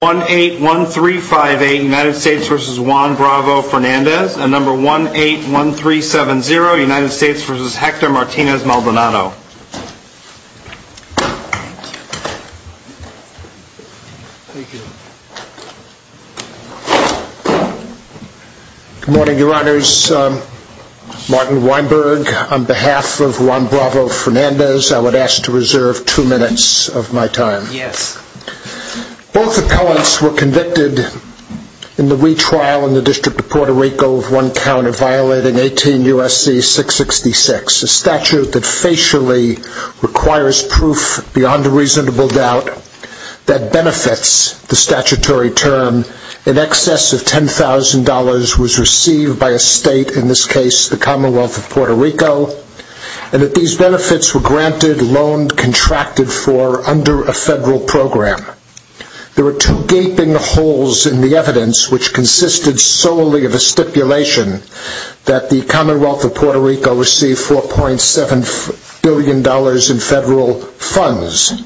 1-813-58 United States v. Juan Bravo-Fernandez and number 1-813-70 United States v. Hector Martinez-Maldonado. Good morning, your honors. Martin Weinberg on behalf of Juan Bravo-Fernandez, I would ask to reserve two minutes of my time. Both appellants were convicted in the retrial in the District of Puerto Rico of one count of violating 18 U.S.C. 666, a statute that facially requires proof beyond a reasonable doubt that benefits the statutory term. An excess of $10,000 was received by a state, in this case the Commonwealth of Puerto Rico, and that these benefits were granted, loaned, contracted for under a federal program. There were two gaping holes in the evidence, which consisted solely of a stipulation that the Commonwealth of Puerto Rico receive $4.7 billion in federal funds.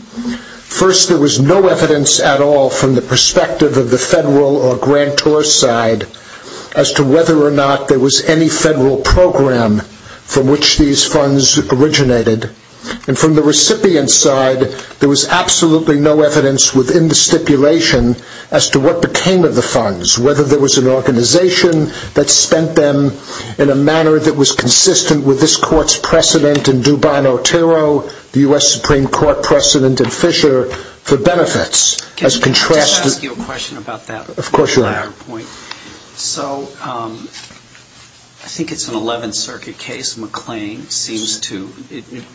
First, there was no evidence at all from the perspective of the federal or grantor side as to whether or not there was any federal program from which these funds originated. And from the recipient side, there was absolutely no evidence within the stipulation as to what became of the funds, whether there was an organization that spent them in a manner that was consistent with this court's precedent in Dubon Otero, the U.S. Supreme Court precedent in Fisher, for benefits. Can I ask you a question about that? Of course, Your Honor. So I think it's an 11th Circuit case. McClain seems to,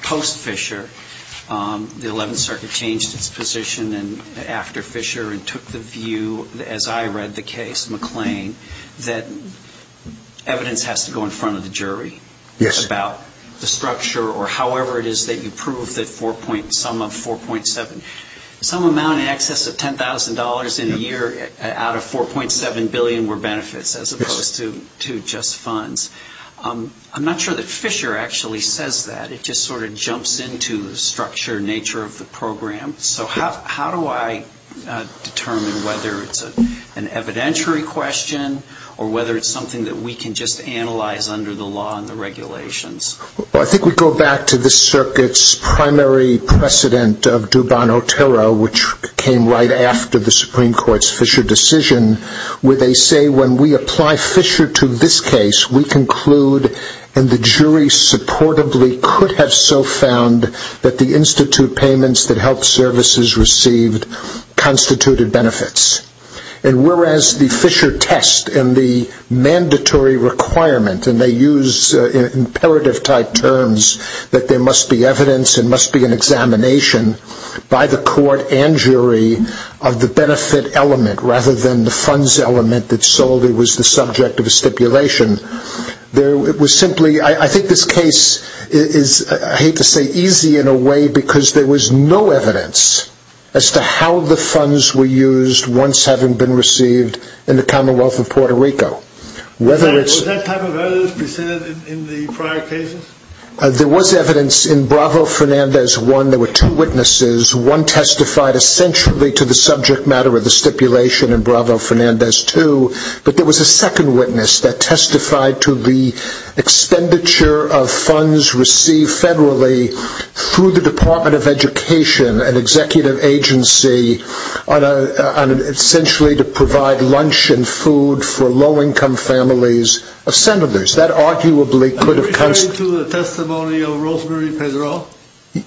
post Fisher, the 11th Circuit changed its position after Fisher and took the view, as I read the case, McClain, that evidence has to go in front of the jury about the structure or however it is that you prove the sum of 4.7. Some amount in excess of $10,000 in a year out of 4.7 billion were benefits as opposed to just funds. I'm not sure that Fisher actually says that. It just sort of jumps into the structure and nature of the program. So how do I determine whether it's an evidentiary question or whether it's something that we can just analyze under the law and the regulations? Well, I think we go back to this Circuit's primary precedent of Dubon Otero, which came right after the Supreme Court's Fisher decision, where they say when we apply Fisher to this case, we conclude, and the jury supportably could have so found that the institute payments that helped services received constituted benefits. And whereas the Fisher test and the mandatory requirement, and they use imperative type terms, that there must be evidence and must be an examination by the court and jury of the benefit element rather than the funds element that solely was the subject of a stipulation, it was simply, I think this case is, I hate to say, easy in a way because there was no evidence as to how the funds were used once having been received in the Commonwealth of Puerto Rico. Was that type of evidence presented in the prior cases? There was evidence in Bravo Fernandez I. There were two witnesses. One testified essentially to the subject matter of the stipulation in Bravo Fernandez II, but there was a second witness that testified to the expenditure of funds received federally through the Department of Education, an executive agency, essentially to provide lunch and food for low-income families of senators. That arguably could have... Are you referring to the testimony of Rosemary Pedro?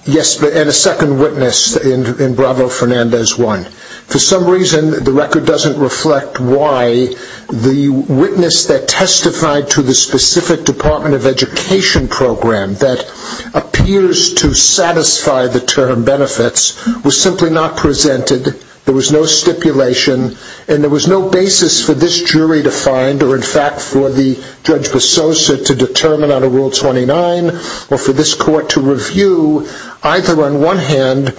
Yes, and a second witness in Bravo Fernandez I. For some reason, the record doesn't reflect why the witness that testified to the specific Department of Education program that appears to satisfy the term benefits was simply not presented. There was no stipulation, and there was no basis for this jury to find or in fact for the Judge Besosa to determine under Rule 29 or for this court to review, either on one hand,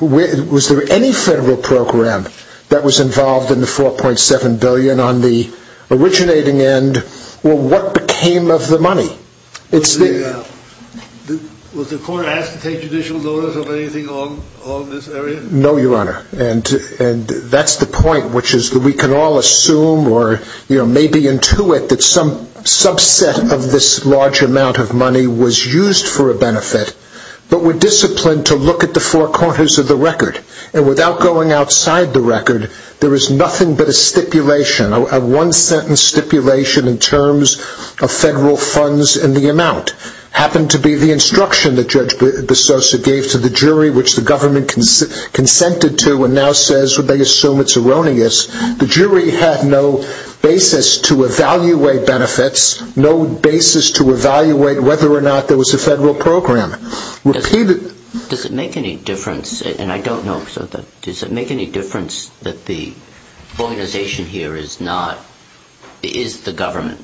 was there any federal program that was involved in the $4.7 billion on the originating end, or what became of the money? Was the court asked to take judicial notice of anything along this area? No, Your Honor, and that's the point, which is that we can all assume or maybe intuit that some subset of this large amount of money was used for a benefit, but we're disciplined to look at the four corners of the record, and without going outside the record, there is nothing but a stipulation, a one-sentence stipulation in terms of federal funds in the amount. It happened to be the instruction that Judge Besosa gave to the jury, which the government consented to and now says they assume it's erroneous. The jury had no basis to evaluate benefits, no basis to evaluate whether or not there was a federal program. Does it make any difference, and I don't know if so, does it make any difference that the organization here is the government?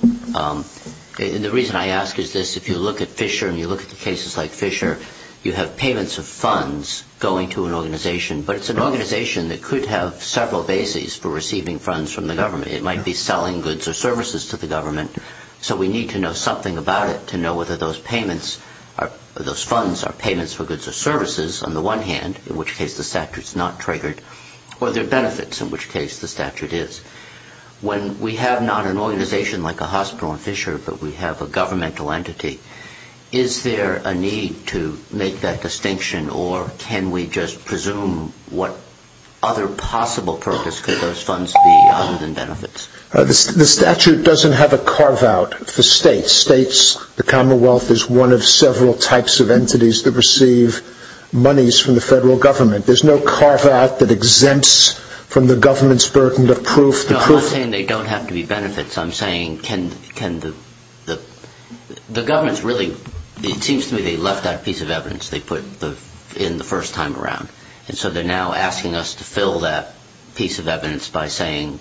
The reason I ask is this. If you look at Fisher and you look at the cases like Fisher, you have payments of funds going to an organization, but it's an organization that could have several bases for receiving funds from the government. It might be selling goods or services to the government, so we need to know something about it to know whether those funds are payments for goods or services on the one hand, in which case the statute's not triggered, or they're benefits, in which case the statute is. When we have not an organization like a hospital in Fisher, but we have a governmental entity, is there a need to make that distinction, or can we just presume what other possible purpose could those funds be other than benefits? The statute doesn't have a carve-out for states. The Commonwealth is one of several types of entities that receive monies from the federal government. There's no carve-out that exempts from the government's burden of proof. No, I'm not saying they don't have to be benefits. I'm saying can the government really, it seems to me they left that piece of evidence they put in the first time around, and so they're now asking us to fill that piece of evidence by saying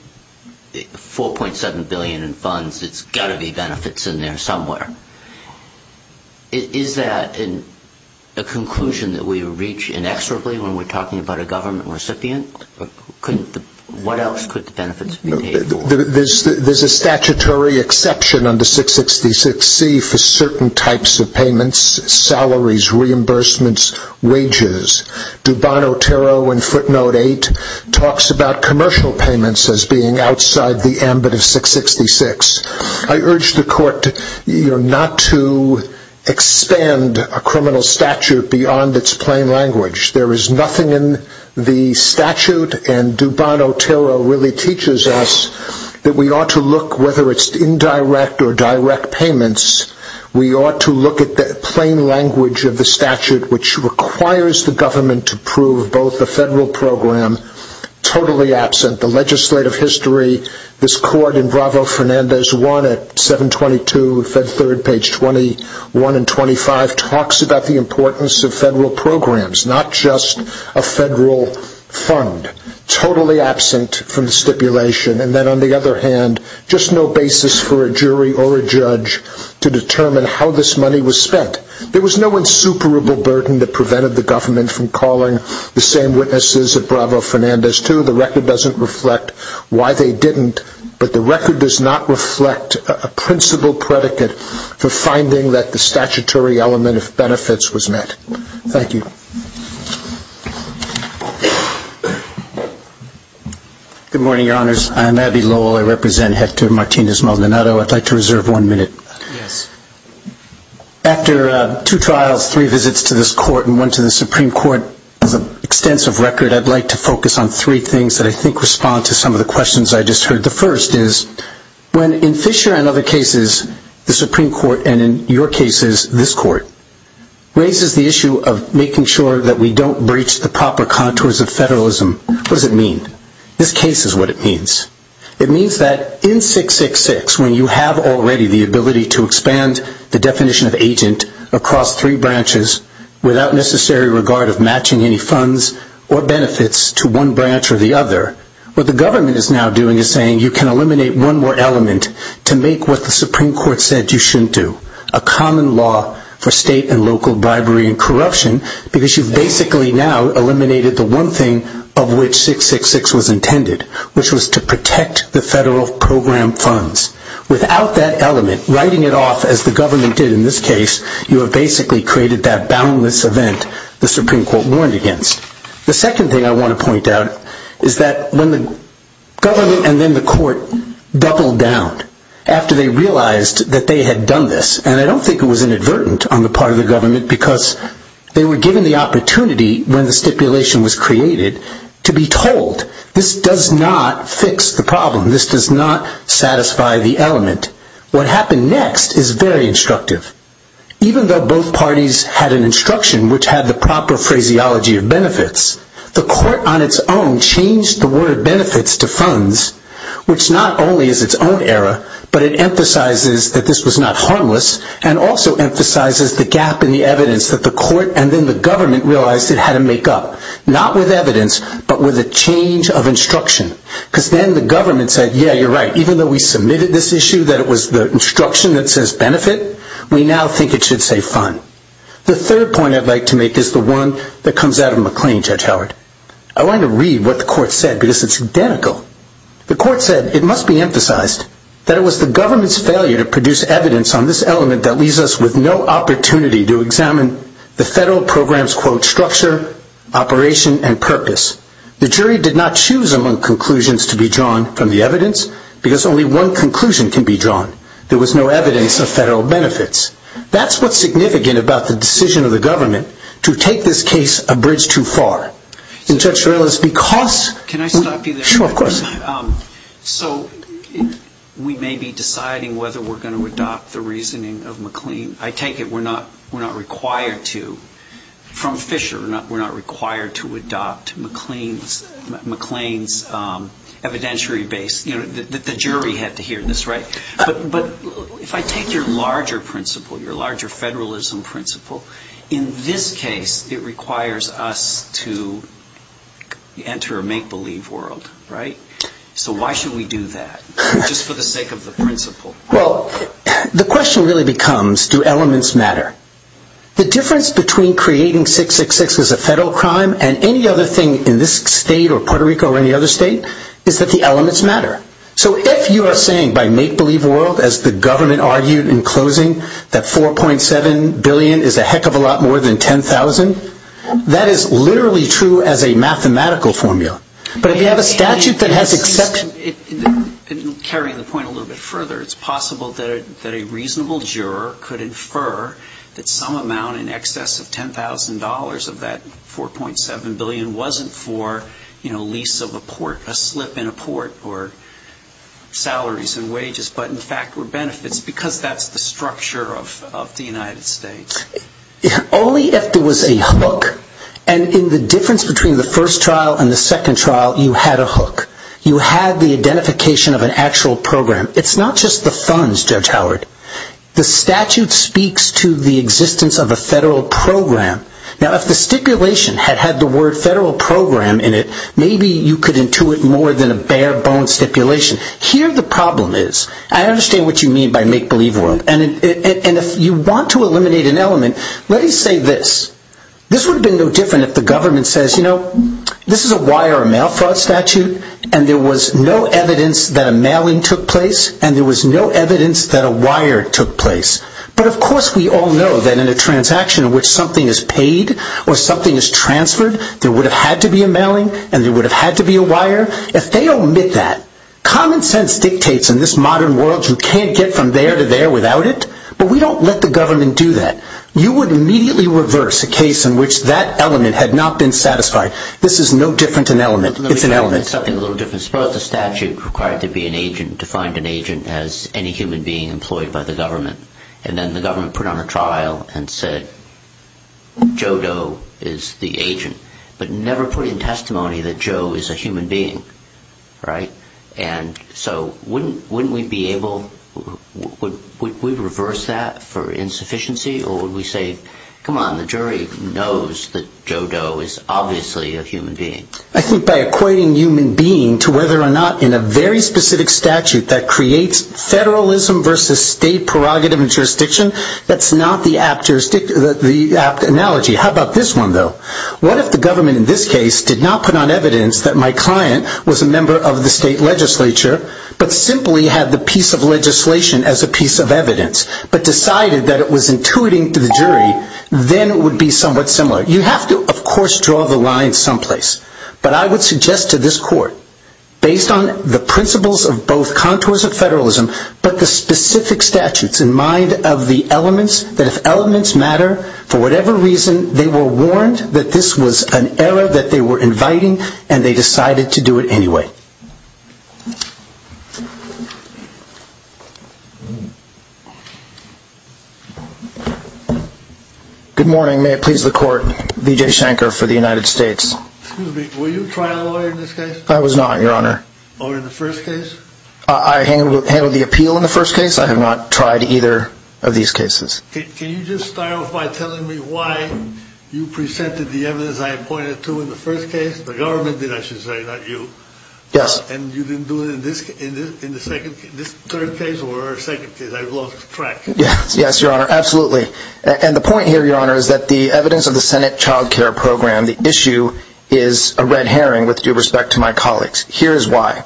4.7 billion in funds, it's got to be benefits in there somewhere. Is that a conclusion that we reach inexorably when we're talking about a government recipient? What else could the benefits be paid for? There's a statutory exception under 666C for certain types of payments, salaries, reimbursements, wages. Dubon-Otero in footnote 8 talks about commercial payments as being outside the ambit of 666. I urge the court not to expand a criminal statute beyond its plain language. There is nothing in the statute, and Dubon-Otero really teaches us that we ought to look, whether it's indirect or direct payments, we ought to look at the plain language of the statute which requires the government to prove both the federal program, totally absent the legislative history. This court in Bravo Fernandez 1 at 722 Fed 3rd page 21 and 25 talks about the importance of federal programs, not just a federal fund, totally absent from the stipulation. And then on the other hand, just no basis for a jury or a judge to determine how this money was spent. There was no insuperable burden that prevented the government from calling the same witnesses at Bravo Fernandez 2. The record doesn't reflect why they didn't, but the record does not reflect a principle predicate for finding that the statutory element of benefits was met. Thank you. Good morning, Your Honors. I'm Abbey Lowell. I represent Hector Martinez-Maldonado. I'd like to reserve one minute. Yes. After two trials, three visits to this court and one to the Supreme Court, as an extensive record, I'd like to focus on three things that I think respond to some of the questions I just heard. The first is when in Fisher and other cases, the Supreme Court, and in your cases, this court, raises the issue of making sure that we don't breach the proper contours of federalism. What does it mean? This case is what it means. It means that in 666, when you have already the ability to expand the definition of agent across three branches, without necessary regard of matching any funds or benefits to one branch or the other, what the government is now doing is saying you can eliminate one more element to make what the Supreme Court said you shouldn't do, a common law for state and local bribery and corruption, because you've basically now eliminated the one thing of which 666 was intended, which was to protect the federal program funds. Without that element, writing it off as the government did in this case, you have basically created that boundless event the Supreme Court warned against. The second thing I want to point out is that when the government and then the court doubled down after they realized that they had done this, and I don't think it was inadvertent on the part of the government because they were given the opportunity when the stipulation was created to be told, this does not fix the problem, this does not satisfy the element. What happened next is very instructive. Even though both parties had an instruction which had the proper phraseology of benefits, the court on its own changed the word benefits to funds, which not only is its own error, but it emphasizes that this was not harmless and also emphasizes the gap in the evidence that the court and then the government realized it had to make up, not with evidence, but with a change of instruction. Because then the government said, yeah, you're right, even though we submitted this issue that it was the instruction that says benefit, we now think it should say fund. The third point I'd like to make is the one that comes out of McLean, Judge Howard. I want to read what the court said because it's identical. The court said it must be emphasized that it was the government's failure to produce evidence on this element that leaves us with no opportunity to examine the federal program's, quote, structure, operation, and purpose. The jury did not choose among conclusions to be drawn from the evidence because only one conclusion can be drawn. There was no evidence of federal benefits. That's what's significant about the decision of the government to take this case a bridge too far. And, Judge Ferrellis, because- Can I stop you there? Sure, of course. So we may be deciding whether we're going to adopt the reasoning of McLean. I take it we're not required to. From Fisher, we're not required to adopt McLean's evidentiary base. The jury had to hear this, right? But if I take your larger principle, your larger federalism principle, in this case it requires us to enter a make-believe world, right? So why should we do that just for the sake of the principle? Well, the question really becomes do elements matter? The difference between creating 666 as a federal crime and any other thing in this state or Puerto Rico or any other state is that the elements matter. So if you are saying by make-believe world, as the government argued in closing, that $4.7 billion is a heck of a lot more than $10,000, that is literally true as a mathematical formula. But if you have a statute that has exception- In carrying the point a little bit further, it's possible that a reasonable juror could infer that some amount in excess of $10,000 of that $4.7 billion wasn't for lease of a port, a slip in a port, or salaries and wages, but in fact were benefits because that's the structure of the United States. Only if there was a hook. And in the difference between the first trial and the second trial, you had a hook. You had the identification of an actual program. It's not just the funds, Judge Howard. The statute speaks to the existence of a federal program. Now if the stipulation had had the word federal program in it, maybe you could intuit more than a bare-bone stipulation. Here the problem is, I understand what you mean by make-believe world, and if you want to eliminate an element, let me say this. This is a wire or mail fraud statute, and there was no evidence that a mailing took place, and there was no evidence that a wire took place. But of course we all know that in a transaction in which something is paid or something is transferred, there would have had to be a mailing and there would have had to be a wire. If they omit that, common sense dictates in this modern world you can't get from there to there without it, but we don't let the government do that. You would immediately reverse a case in which that element had not been satisfied. This is no different an element. It's an element. Let me try to make something a little different. Suppose the statute required to be an agent, defined an agent as any human being employed by the government, and then the government put on a trial and said Joe Doe is the agent, but never put in testimony that Joe is a human being, right? And so wouldn't we be able, would we reverse that for insufficiency, or would we say, come on, the jury knows that Joe Doe is obviously a human being? I think by equating human being to whether or not in a very specific statute that creates federalism versus state prerogative and jurisdiction, that's not the apt analogy. How about this one though? What if the government in this case did not put on evidence that my client was a member of the state legislature, but simply had the piece of legislation as a piece of evidence, but decided that it was intuiting to the jury, then it would be somewhat similar. You have to, of course, draw the line someplace. But I would suggest to this court, based on the principles of both contours of federalism, but the specific statutes in mind of the elements, that if elements matter, for whatever reason they were warned that this was an error that they were inviting, and they decided to do it anyway. Good morning. May it please the court, Vijay Shankar for the United States. Excuse me, were you a trial lawyer in this case? I was not, Your Honor. Or in the first case? I handled the appeal in the first case. I have not tried either of these cases. Can you just start off by telling me why you presented the evidence I appointed to in the first case? The government did, I should say, not you. Yes. And you didn't do it in this third case or second case? I've lost track. Yes, Your Honor. Absolutely. And the point here, Your Honor, is that the evidence of the Senate Child Care Program, the issue is a red herring with due respect to my colleagues. Here is why.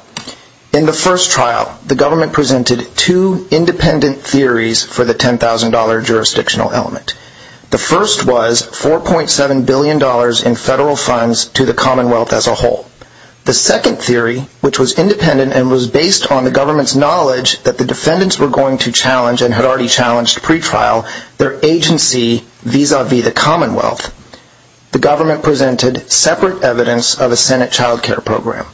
In the first trial, the government presented two independent theories for the $10,000 jurisdictional element. The first was $4.7 billion in federal funds to the Commonwealth as a whole. The second theory, which was independent and was based on the government's knowledge that the defendants were going to challenge and had already challenged pre-trial their agency vis-a-vis the Commonwealth, the government presented separate evidence of a Senate Child Care Program.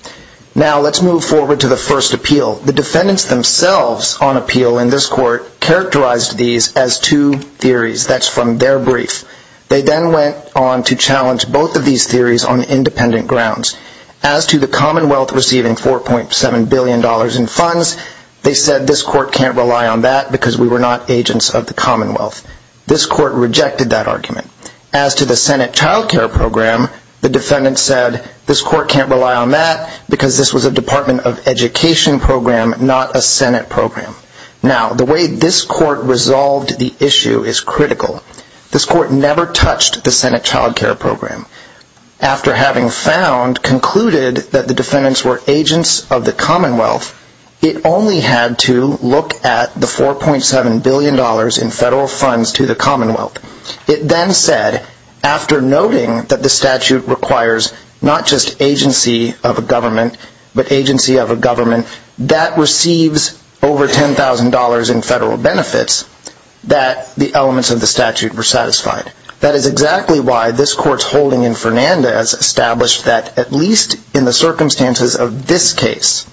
Now let's move forward to the first appeal. The defendants themselves on appeal in this court characterized these as two theories. That's from their brief. They then went on to challenge both of these theories on independent grounds. As to the Commonwealth receiving $4.7 billion in funds, they said this court can't rely on that because we were not agents of the Commonwealth. This court rejected that argument. As to the Senate Child Care Program, the defendants said this court can't rely on that because this was a Department of Education program, not a Senate program. Now, the way this court resolved the issue is critical. This court never touched the Senate Child Care Program. After having found, concluded that the defendants were agents of the Commonwealth, it only had to look at the $4.7 billion in federal funds to the Commonwealth. It then said, after noting that the statute requires not just agency of a government, but agency of a government that receives over $10,000 in federal benefits, that the elements of the statute were satisfied. That is exactly why this court's holding in Fernandez established that, at least in the circumstances of this case,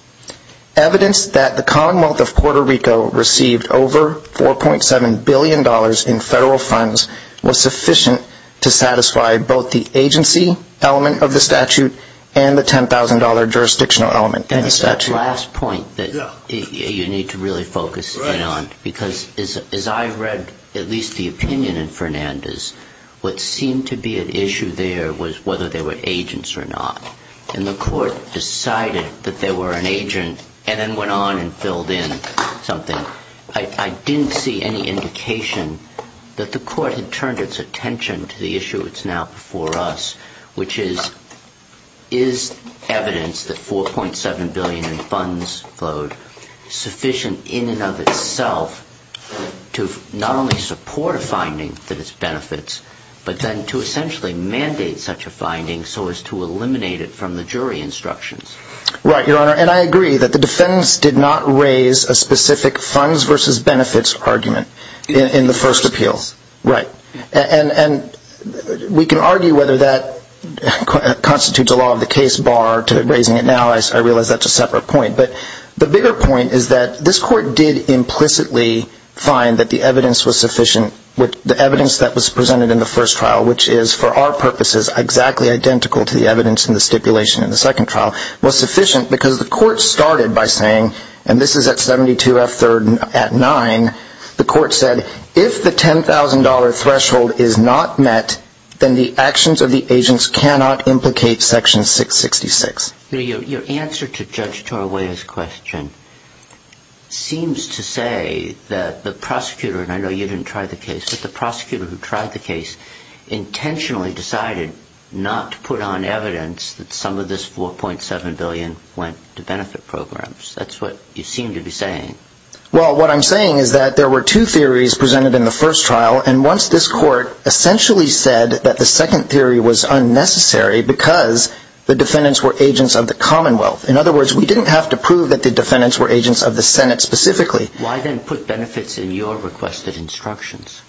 evidence that the Commonwealth of Puerto Rico received over $4.7 billion in federal funds was sufficient to satisfy both the agency element of the statute and the $10,000 jurisdictional element in the statute. And it's that last point that you need to really focus in on, because as I read at least the opinion in Fernandez, what seemed to be an issue there was whether they were agents or not. And the court decided that they were an agent and then went on and filled in something. I didn't see any indication that the court had turned its attention to the issue that's now before us, which is, is evidence that $4.7 billion in funds flowed sufficient in and of itself to not only support a finding that it benefits, but then to essentially mandate such a finding so as to eliminate it from the jury instructions. Right, Your Honor. And I agree that the defense did not raise a specific funds versus benefits argument in the first appeal. Right. And we can argue whether that constitutes a law of the case, bar to raising it now, I realize that's a separate point. But the bigger point is that this court did implicitly find that the evidence was sufficient, the evidence that was presented in the first trial, which is for our purposes exactly identical to the evidence in the stipulation in the second trial, was sufficient because the court started by saying, and this is at 72F3rd at 9, the court said, if the $10,000 threshold is not met, then the actions of the agents cannot implicate Section 666. Your answer to Judge Tarweya's question seems to say that the prosecutor, and I know you didn't try the case, but the prosecutor who tried the case intentionally decided not to put on evidence that some of this $4.7 billion went to benefit programs. That's what you seem to be saying. Well, what I'm saying is that there were two theories presented in the first trial, and once this court essentially said that the second theory was unnecessary because the defendants were agents of the Commonwealth. In other words, we didn't have to prove that the defendants were agents of the Senate specifically. Why then put benefits in your requested instructions?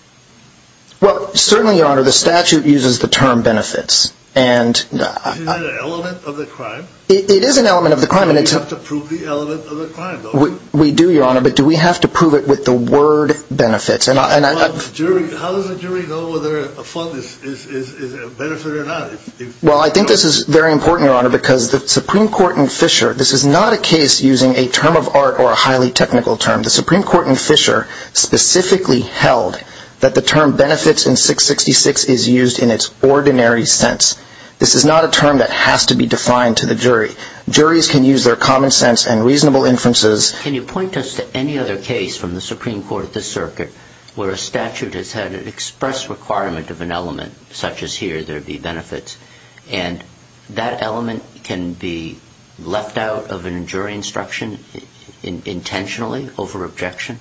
Well, certainly, Your Honor, the statute uses the term benefits. Is that an element of the crime? It is an element of the crime. Do we have to prove the element of the crime, though? We do, Your Honor, but do we have to prove it with the word benefits? How does a jury know whether a fund is a benefit or not? Well, I think this is very important, Your Honor, because the Supreme Court in Fisher, this is not a case using a term of art or a highly technical term. The Supreme Court in Fisher specifically held that the term benefits in 666 is used in its ordinary sense. This is not a term that has to be defined to the jury. Juries can use their common sense and reasonable inferences. Can you point us to any other case from the Supreme Court at this circuit where a statute has had an express requirement of an element, such as here, there be benefits, and that element can be left out of a jury instruction intentionally over objection?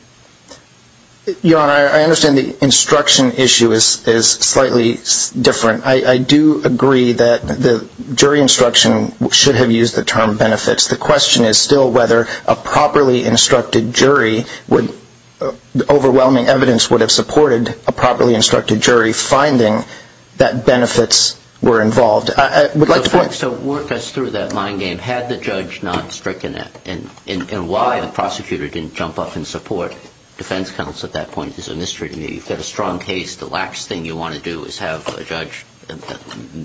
Your Honor, I understand the instruction issue is slightly different. I do agree that the jury instruction should have used the term benefits. The question is still whether a properly instructed jury would, overwhelming evidence would have supported a properly instructed jury finding that benefits were involved. So work us through that mind game. Had the judge not stricken it, and why the prosecutor didn't jump up and support defense counsel at that point is a mystery to me. You've got a strong case. The last thing you want to do is have a judge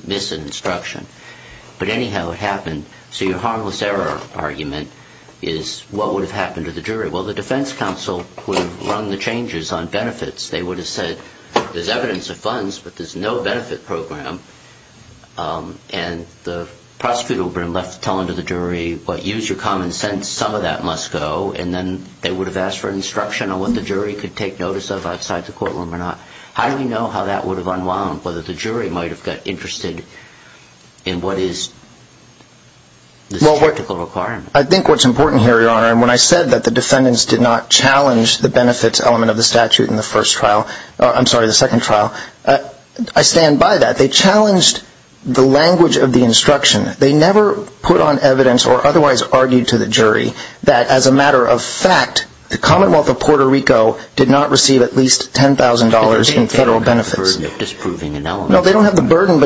miss an instruction. But anyhow, it happened. So your harmless error argument is what would have happened to the jury? Well, the defense counsel would have run the changes on benefits. They would have said there's evidence of funds, but there's no benefit program. And the prosecutor would have been left telling to the jury, well, use your common sense. Some of that must go. And then they would have asked for instruction on what the jury could take notice of outside the courtroom or not. How do we know how that would have unwound, whether the jury might have got interested in what is the technical requirement? I think what's important here, Your Honor, and when I said that the defendants did not challenge the benefits element of the statute in the first trial, I'm sorry, the second trial, I stand by that. They challenged the language of the instruction. They never put on evidence or otherwise argued to the jury that as a matter of fact, the Commonwealth of Puerto Rico did not receive at least $10,000 in federal benefits. They don't have the burden of disproving an element. No, they don't have the burden.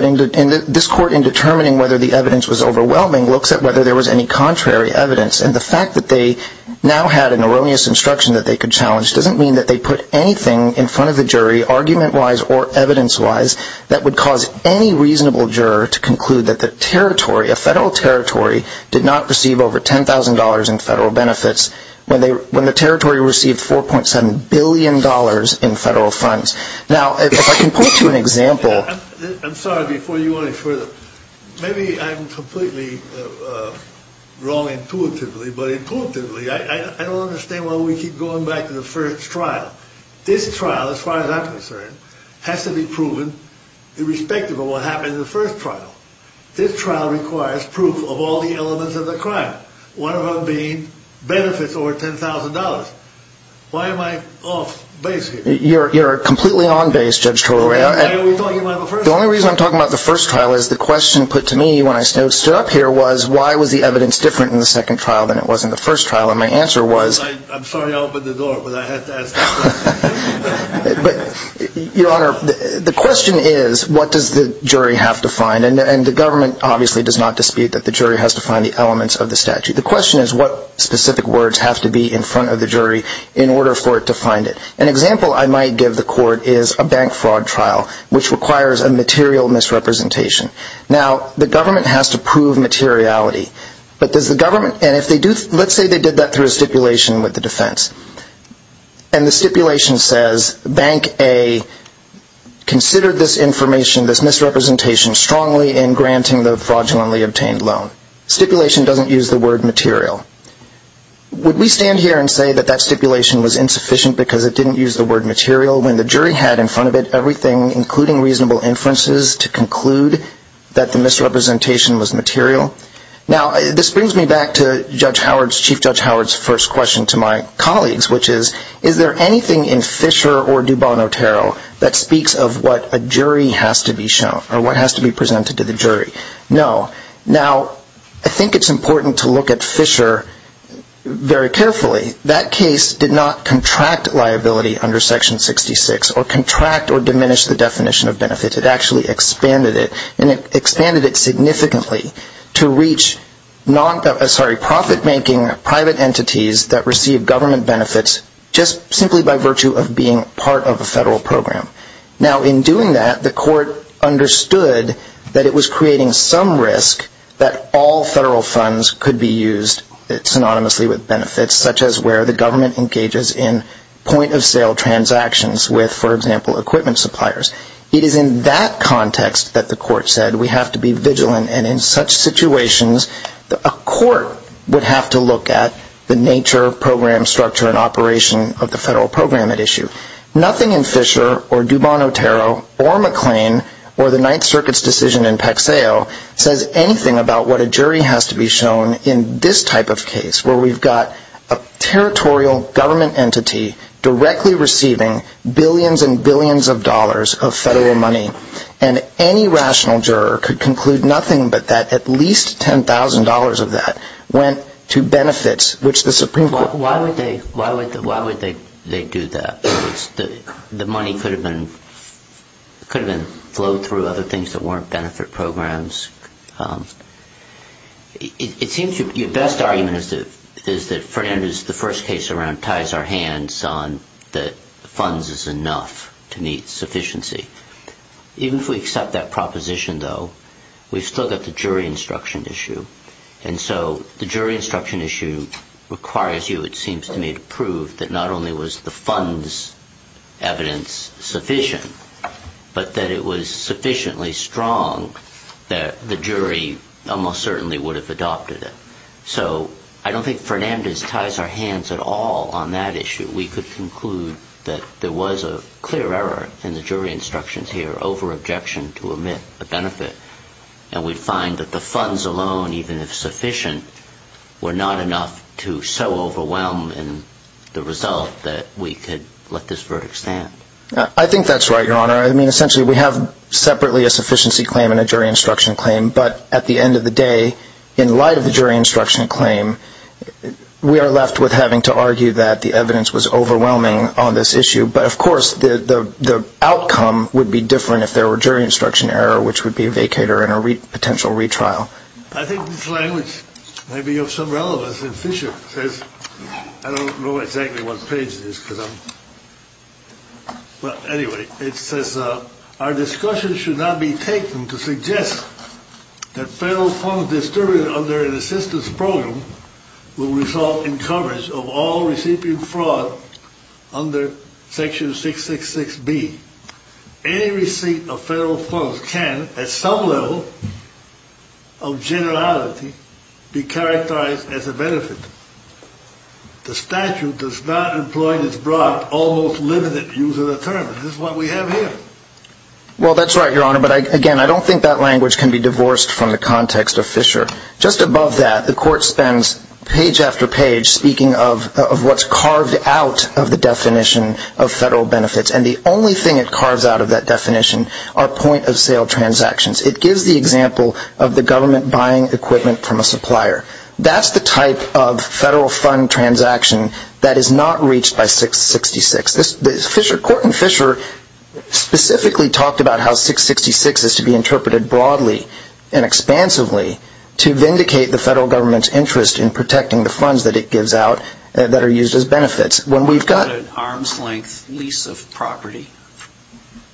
This court, in determining whether the evidence was overwhelming, looks at whether there was any contrary evidence. And the fact that they now had an erroneous instruction that they could challenge doesn't mean that they put anything in front of the jury, argument-wise or evidence-wise, that would cause any reasonable juror to conclude that the territory, a federal territory, did not receive over $10,000 in federal benefits when the territory received $4.7 billion in federal funds. Now, if I can point to an example. I'm sorry, before you go any further, maybe I'm completely wrong intuitively, but intuitively, I don't understand why we keep going back to the first trial. This trial, as far as I'm concerned, has to be proven irrespective of what happened in the first trial. This trial requires proof of all the elements of the crime, one of them being benefits over $10,000. Why am I off base here? You're completely on base, Judge Torello. The only reason I'm talking about the first trial is the question put to me when I stood up here was, why was the evidence different in the second trial than it was in the first trial? And my answer was... I'm sorry to open the door, but I have to ask that question. Your Honor, the question is, what does the jury have to find? And the government obviously does not dispute that the jury has to find the elements of the statute. The question is, what specific words have to be in front of the jury in order for it to find it? An example I might give the court is a bank fraud trial, which requires a material misrepresentation. Now, the government has to prove materiality. But does the government... And if they do... Let's say they did that through a stipulation with the defense. And the stipulation says, Bank A considered this information, this misrepresentation, strongly in granting the fraudulently obtained loan. Stipulation doesn't use the word material. Would we stand here and say that that stipulation was insufficient because it didn't use the word material when the jury had in front of it everything, including reasonable inferences, to conclude that the misrepresentation was material? Now, this brings me back to Chief Judge Howard's first question to my colleagues, which is, is there anything in Fisher or Dubon-Otero that speaks of what a jury has to be shown, or what has to be presented to the jury? No. Now, I think it's important to look at Fisher very carefully. That case did not contract liability under Section 66, or contract or diminish the definition of benefit. It actually expanded it. And it expanded it significantly to reach profit-making private entities that receive government benefits just simply by virtue of being part of a federal program. Now, in doing that, the court understood that it was creating some risk that all federal funds could be used synonymously with benefits, such as where the government engages in point-of-sale transactions with, for example, equipment suppliers. It is in that context that the court said we have to be vigilant, and in such situations, a court would have to look at the nature, program structure, and operation of the federal program at issue. Nothing in Fisher or Dubon-Otero or McLean or the Ninth Circuit's decision in Pexeo says anything about what a jury has to be shown in this type of case, where we've got a territorial government entity directly receiving billions and billions of dollars of federal money. And any rational juror could conclude nothing but that at least $10,000 of that went to benefits, which the Supreme Court... The money could have been flowed through other things that weren't benefit programs. It seems your best argument is that Fernandez, the first case around, ties our hands on that funds is enough to meet sufficiency. Even if we accept that proposition, though, we've still got the jury instruction issue. And so the jury instruction issue requires you, it seems to me, to prove that not only was the funds evidence sufficient, but that it was sufficiently strong that the jury almost certainly would have adopted it. So I don't think Fernandez ties our hands at all on that issue. We could conclude that there was a clear error in the jury instructions here over objection to emit a benefit, and we'd find that the funds alone, even if sufficient, were not enough to so overwhelm the result that we could let this verdict stand. I think that's right, Your Honor. I mean, essentially, we have separately a sufficiency claim and a jury instruction claim. But at the end of the day, in light of the jury instruction claim, we are left with having to argue that the evidence was overwhelming on this issue. But, of course, the outcome would be different if there were jury instruction error, which would be a vacator and a potential retrial. I think this language may be of some relevance. And Fisher says, I don't know exactly what page it is because I'm – well, anyway, it says, our discussion should not be taken to suggest that federal funds distributed under an assistance program will result in coverage of all recipient fraud under Section 666B. Any receipt of federal funds can, at some level of generality, be characterized as a benefit. The statute does not employ this broad, almost limited use of the term. This is what we have here. Well, that's right, Your Honor. But, again, I don't think that language can be divorced from the context of Fisher. Just above that, the Court spends page after page speaking of what's carved out of the definition of federal benefits. And the only thing it carves out of that definition are point-of-sale transactions. It gives the example of the government buying equipment from a supplier. That's the type of federal fund transaction that is not reached by 666. Court and Fisher specifically talked about how 666 is to be interpreted broadly and expansively to vindicate the federal government's interest in protecting the funds that it gives out that are used as benefits. When we've got an arm's-length lease of property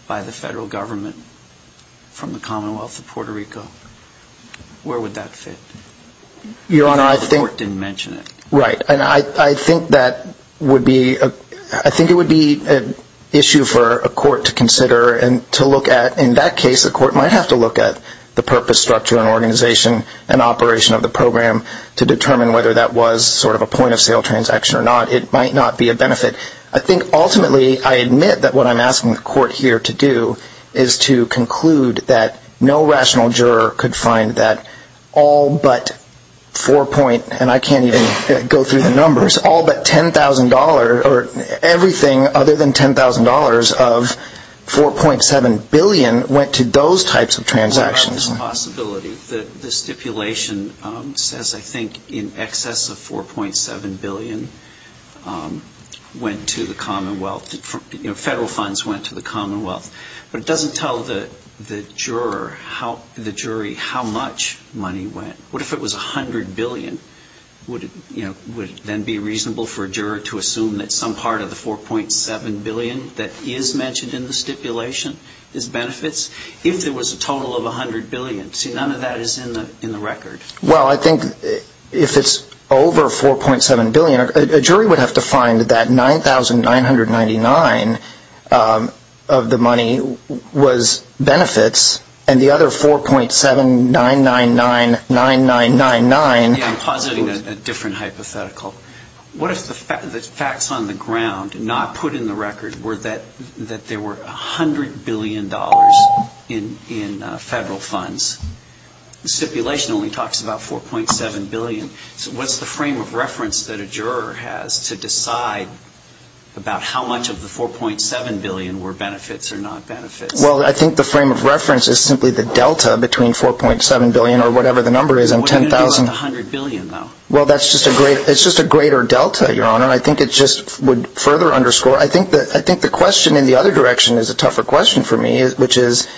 by the federal government from the Commonwealth of Puerto Rico, where would that fit? Your Honor, I think – Even though the Court didn't mention it. Right. And I think that would be – I think it would be an issue for a court to consider and to look at. In that case, a court might have to look at the purpose, structure, and organization and operation of the program to determine whether that was sort of a point-of-sale transaction or not. It might not be a benefit. I think, ultimately, I admit that what I'm asking the Court here to do is to conclude that no rational juror could find that all but four point – and I can't even go through the numbers – all but $10,000 or everything other than $10,000 of $4.7 billion went to those types of transactions. There are other possibilities. The stipulation says, I think, in excess of $4.7 billion went to the Commonwealth. Federal funds went to the Commonwealth. But it doesn't tell the juror, the jury, how much money went. What if it was $100 billion? Would it then be reasonable for a juror to assume that some part of the $4.7 billion that is mentioned in the stipulation is benefits? If there was a total of $100 billion. See, none of that is in the record. Well, I think if it's over $4.7 billion, a jury would have to find that $9,999 of the money was benefits and the other $4.7,999,999… Yeah, I'm positing a different hypothetical. What if the facts on the ground, not put in the record, were that there were $100 billion in federal funds? The stipulation only talks about $4.7 billion. So what's the frame of reference that a juror has to decide about how much of the $4.7 billion were benefits or not benefits? Well, I think the frame of reference is simply the delta between $4.7 billion or whatever the number is and $10,000… What are you going to do about the $100 billion, though? Well, that's just a greater delta, Your Honor. I think it just would further underscore… I think the question in the other direction is a tougher question for me, which is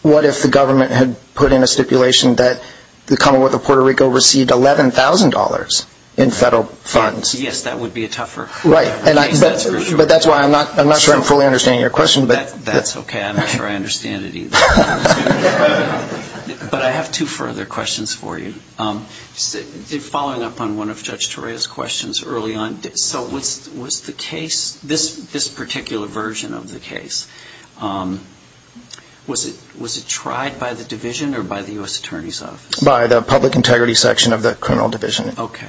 what if the government had put in a stipulation that the Commonwealth of Puerto Rico received $11,000 in federal funds? Yes, that would be a tougher case, that's for sure. Right, but that's why I'm not sure I'm fully understanding your question. That's okay. I'm not sure I understand it either. But I have two further questions for you. Following up on one of Judge Torea's questions early on, so was the case, this particular version of the case, was it tried by the Division or by the U.S. Attorney's Office? By the Public Integrity Section of the Criminal Division. Okay.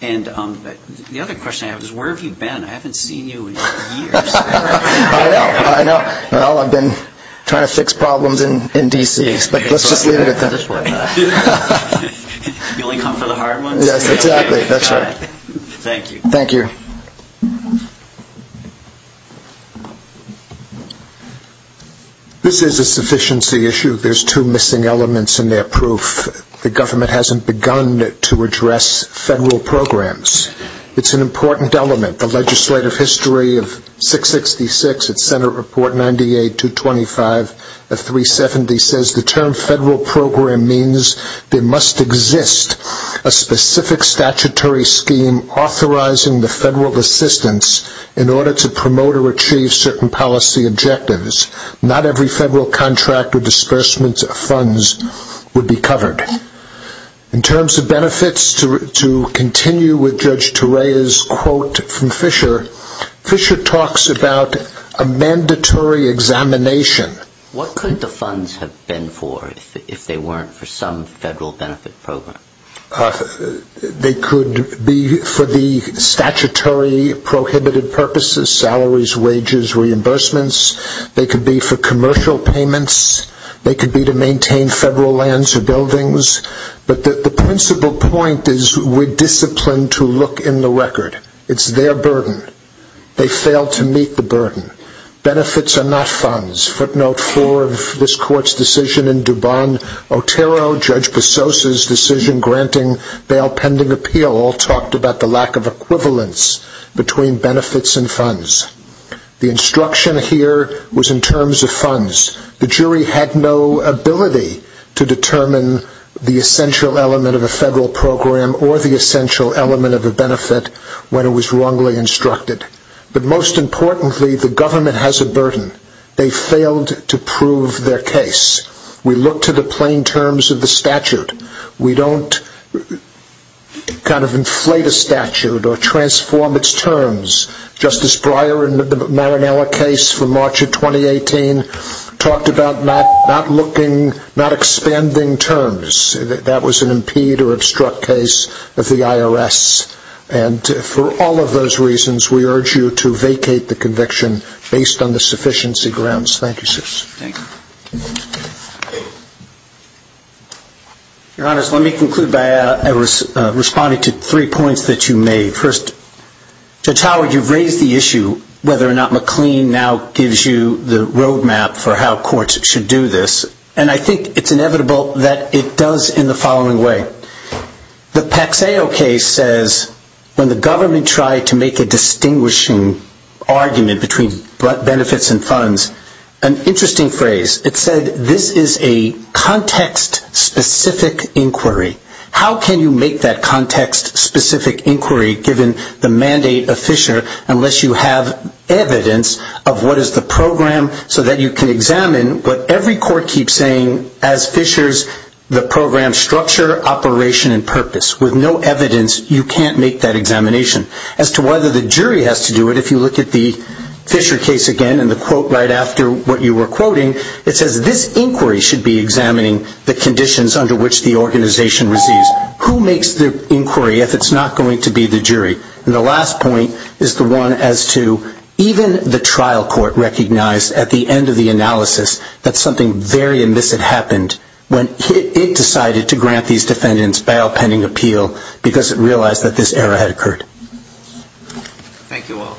And the other question I have is where have you been? I haven't seen you in years. I know, I know. I've been trying to fix problems in D.C. You only come for the hard ones? Yes, exactly. That's right. Thank you. Thank you. This is a sufficiency issue. There's two missing elements in their proof. The government hasn't begun to address federal programs. It's an important element. The legislative history of 666 at Senate Report 98-225 of 370 says the term federal program means there must exist a specific statutory scheme authorizing the federal assistance in order to promote or achieve certain policy objectives. Not every federal contract or disbursement of funds would be covered. In terms of benefits, to continue with Judge Torreya's quote from Fisher, Fisher talks about a mandatory examination. What could the funds have been for if they weren't for some federal benefit program? They could be for the statutory prohibited purposes, salaries, wages, reimbursements. They could be for commercial payments. They could be to maintain federal lands or buildings. But the principal point is we're disciplined to look in the record. It's their burden. They failed to meet the burden. Benefits are not funds. Footnote 4 of this court's decision in Dubon-Otero, Judge Bezos's decision granting bail pending appeal, all talked about the lack of equivalence between benefits and funds. The instruction here was in terms of funds. The jury had no ability to determine the essential element of a federal program or the essential element of a benefit when it was wrongly instructed. But most importantly, the government has a burden. They failed to prove their case. We look to the plain terms of the statute. We don't kind of inflate a statute or transform its terms. Justice Breyer in the Marinella case from March of 2018 talked about not looking, not expanding terms. That was an impede or obstruct case of the IRS. And for all of those reasons, we urge you to vacate the conviction based on the sufficiency grounds. Thank you, sirs. Your Honors, let me conclude by responding to three points that you made. First, Judge Howard, you've raised the issue whether or not McLean now gives you the roadmap for how courts should do this. And I think it's inevitable that it does in the following way. The Paxeo case says when the government tried to make a distinguishing argument between benefits and funds, an interesting phrase. It said this is a context-specific inquiry. How can you make that context-specific inquiry given the mandate of Fisher unless you have evidence of what is the program so that you can examine what every court keeps saying. As Fishers, the program structure, operation, and purpose. With no evidence, you can't make that examination. As to whether the jury has to do it, if you look at the Fisher case again and the quote right after what you were quoting, it says this inquiry should be examining the conditions under which the organization receives. Who makes the inquiry if it's not going to be the jury? And the last point is the one as to even the trial court recognized at the end of the analysis that something very immiscid happened when it decided to grant these defendants bail pending appeal because it realized that this error had occurred. Thank you all.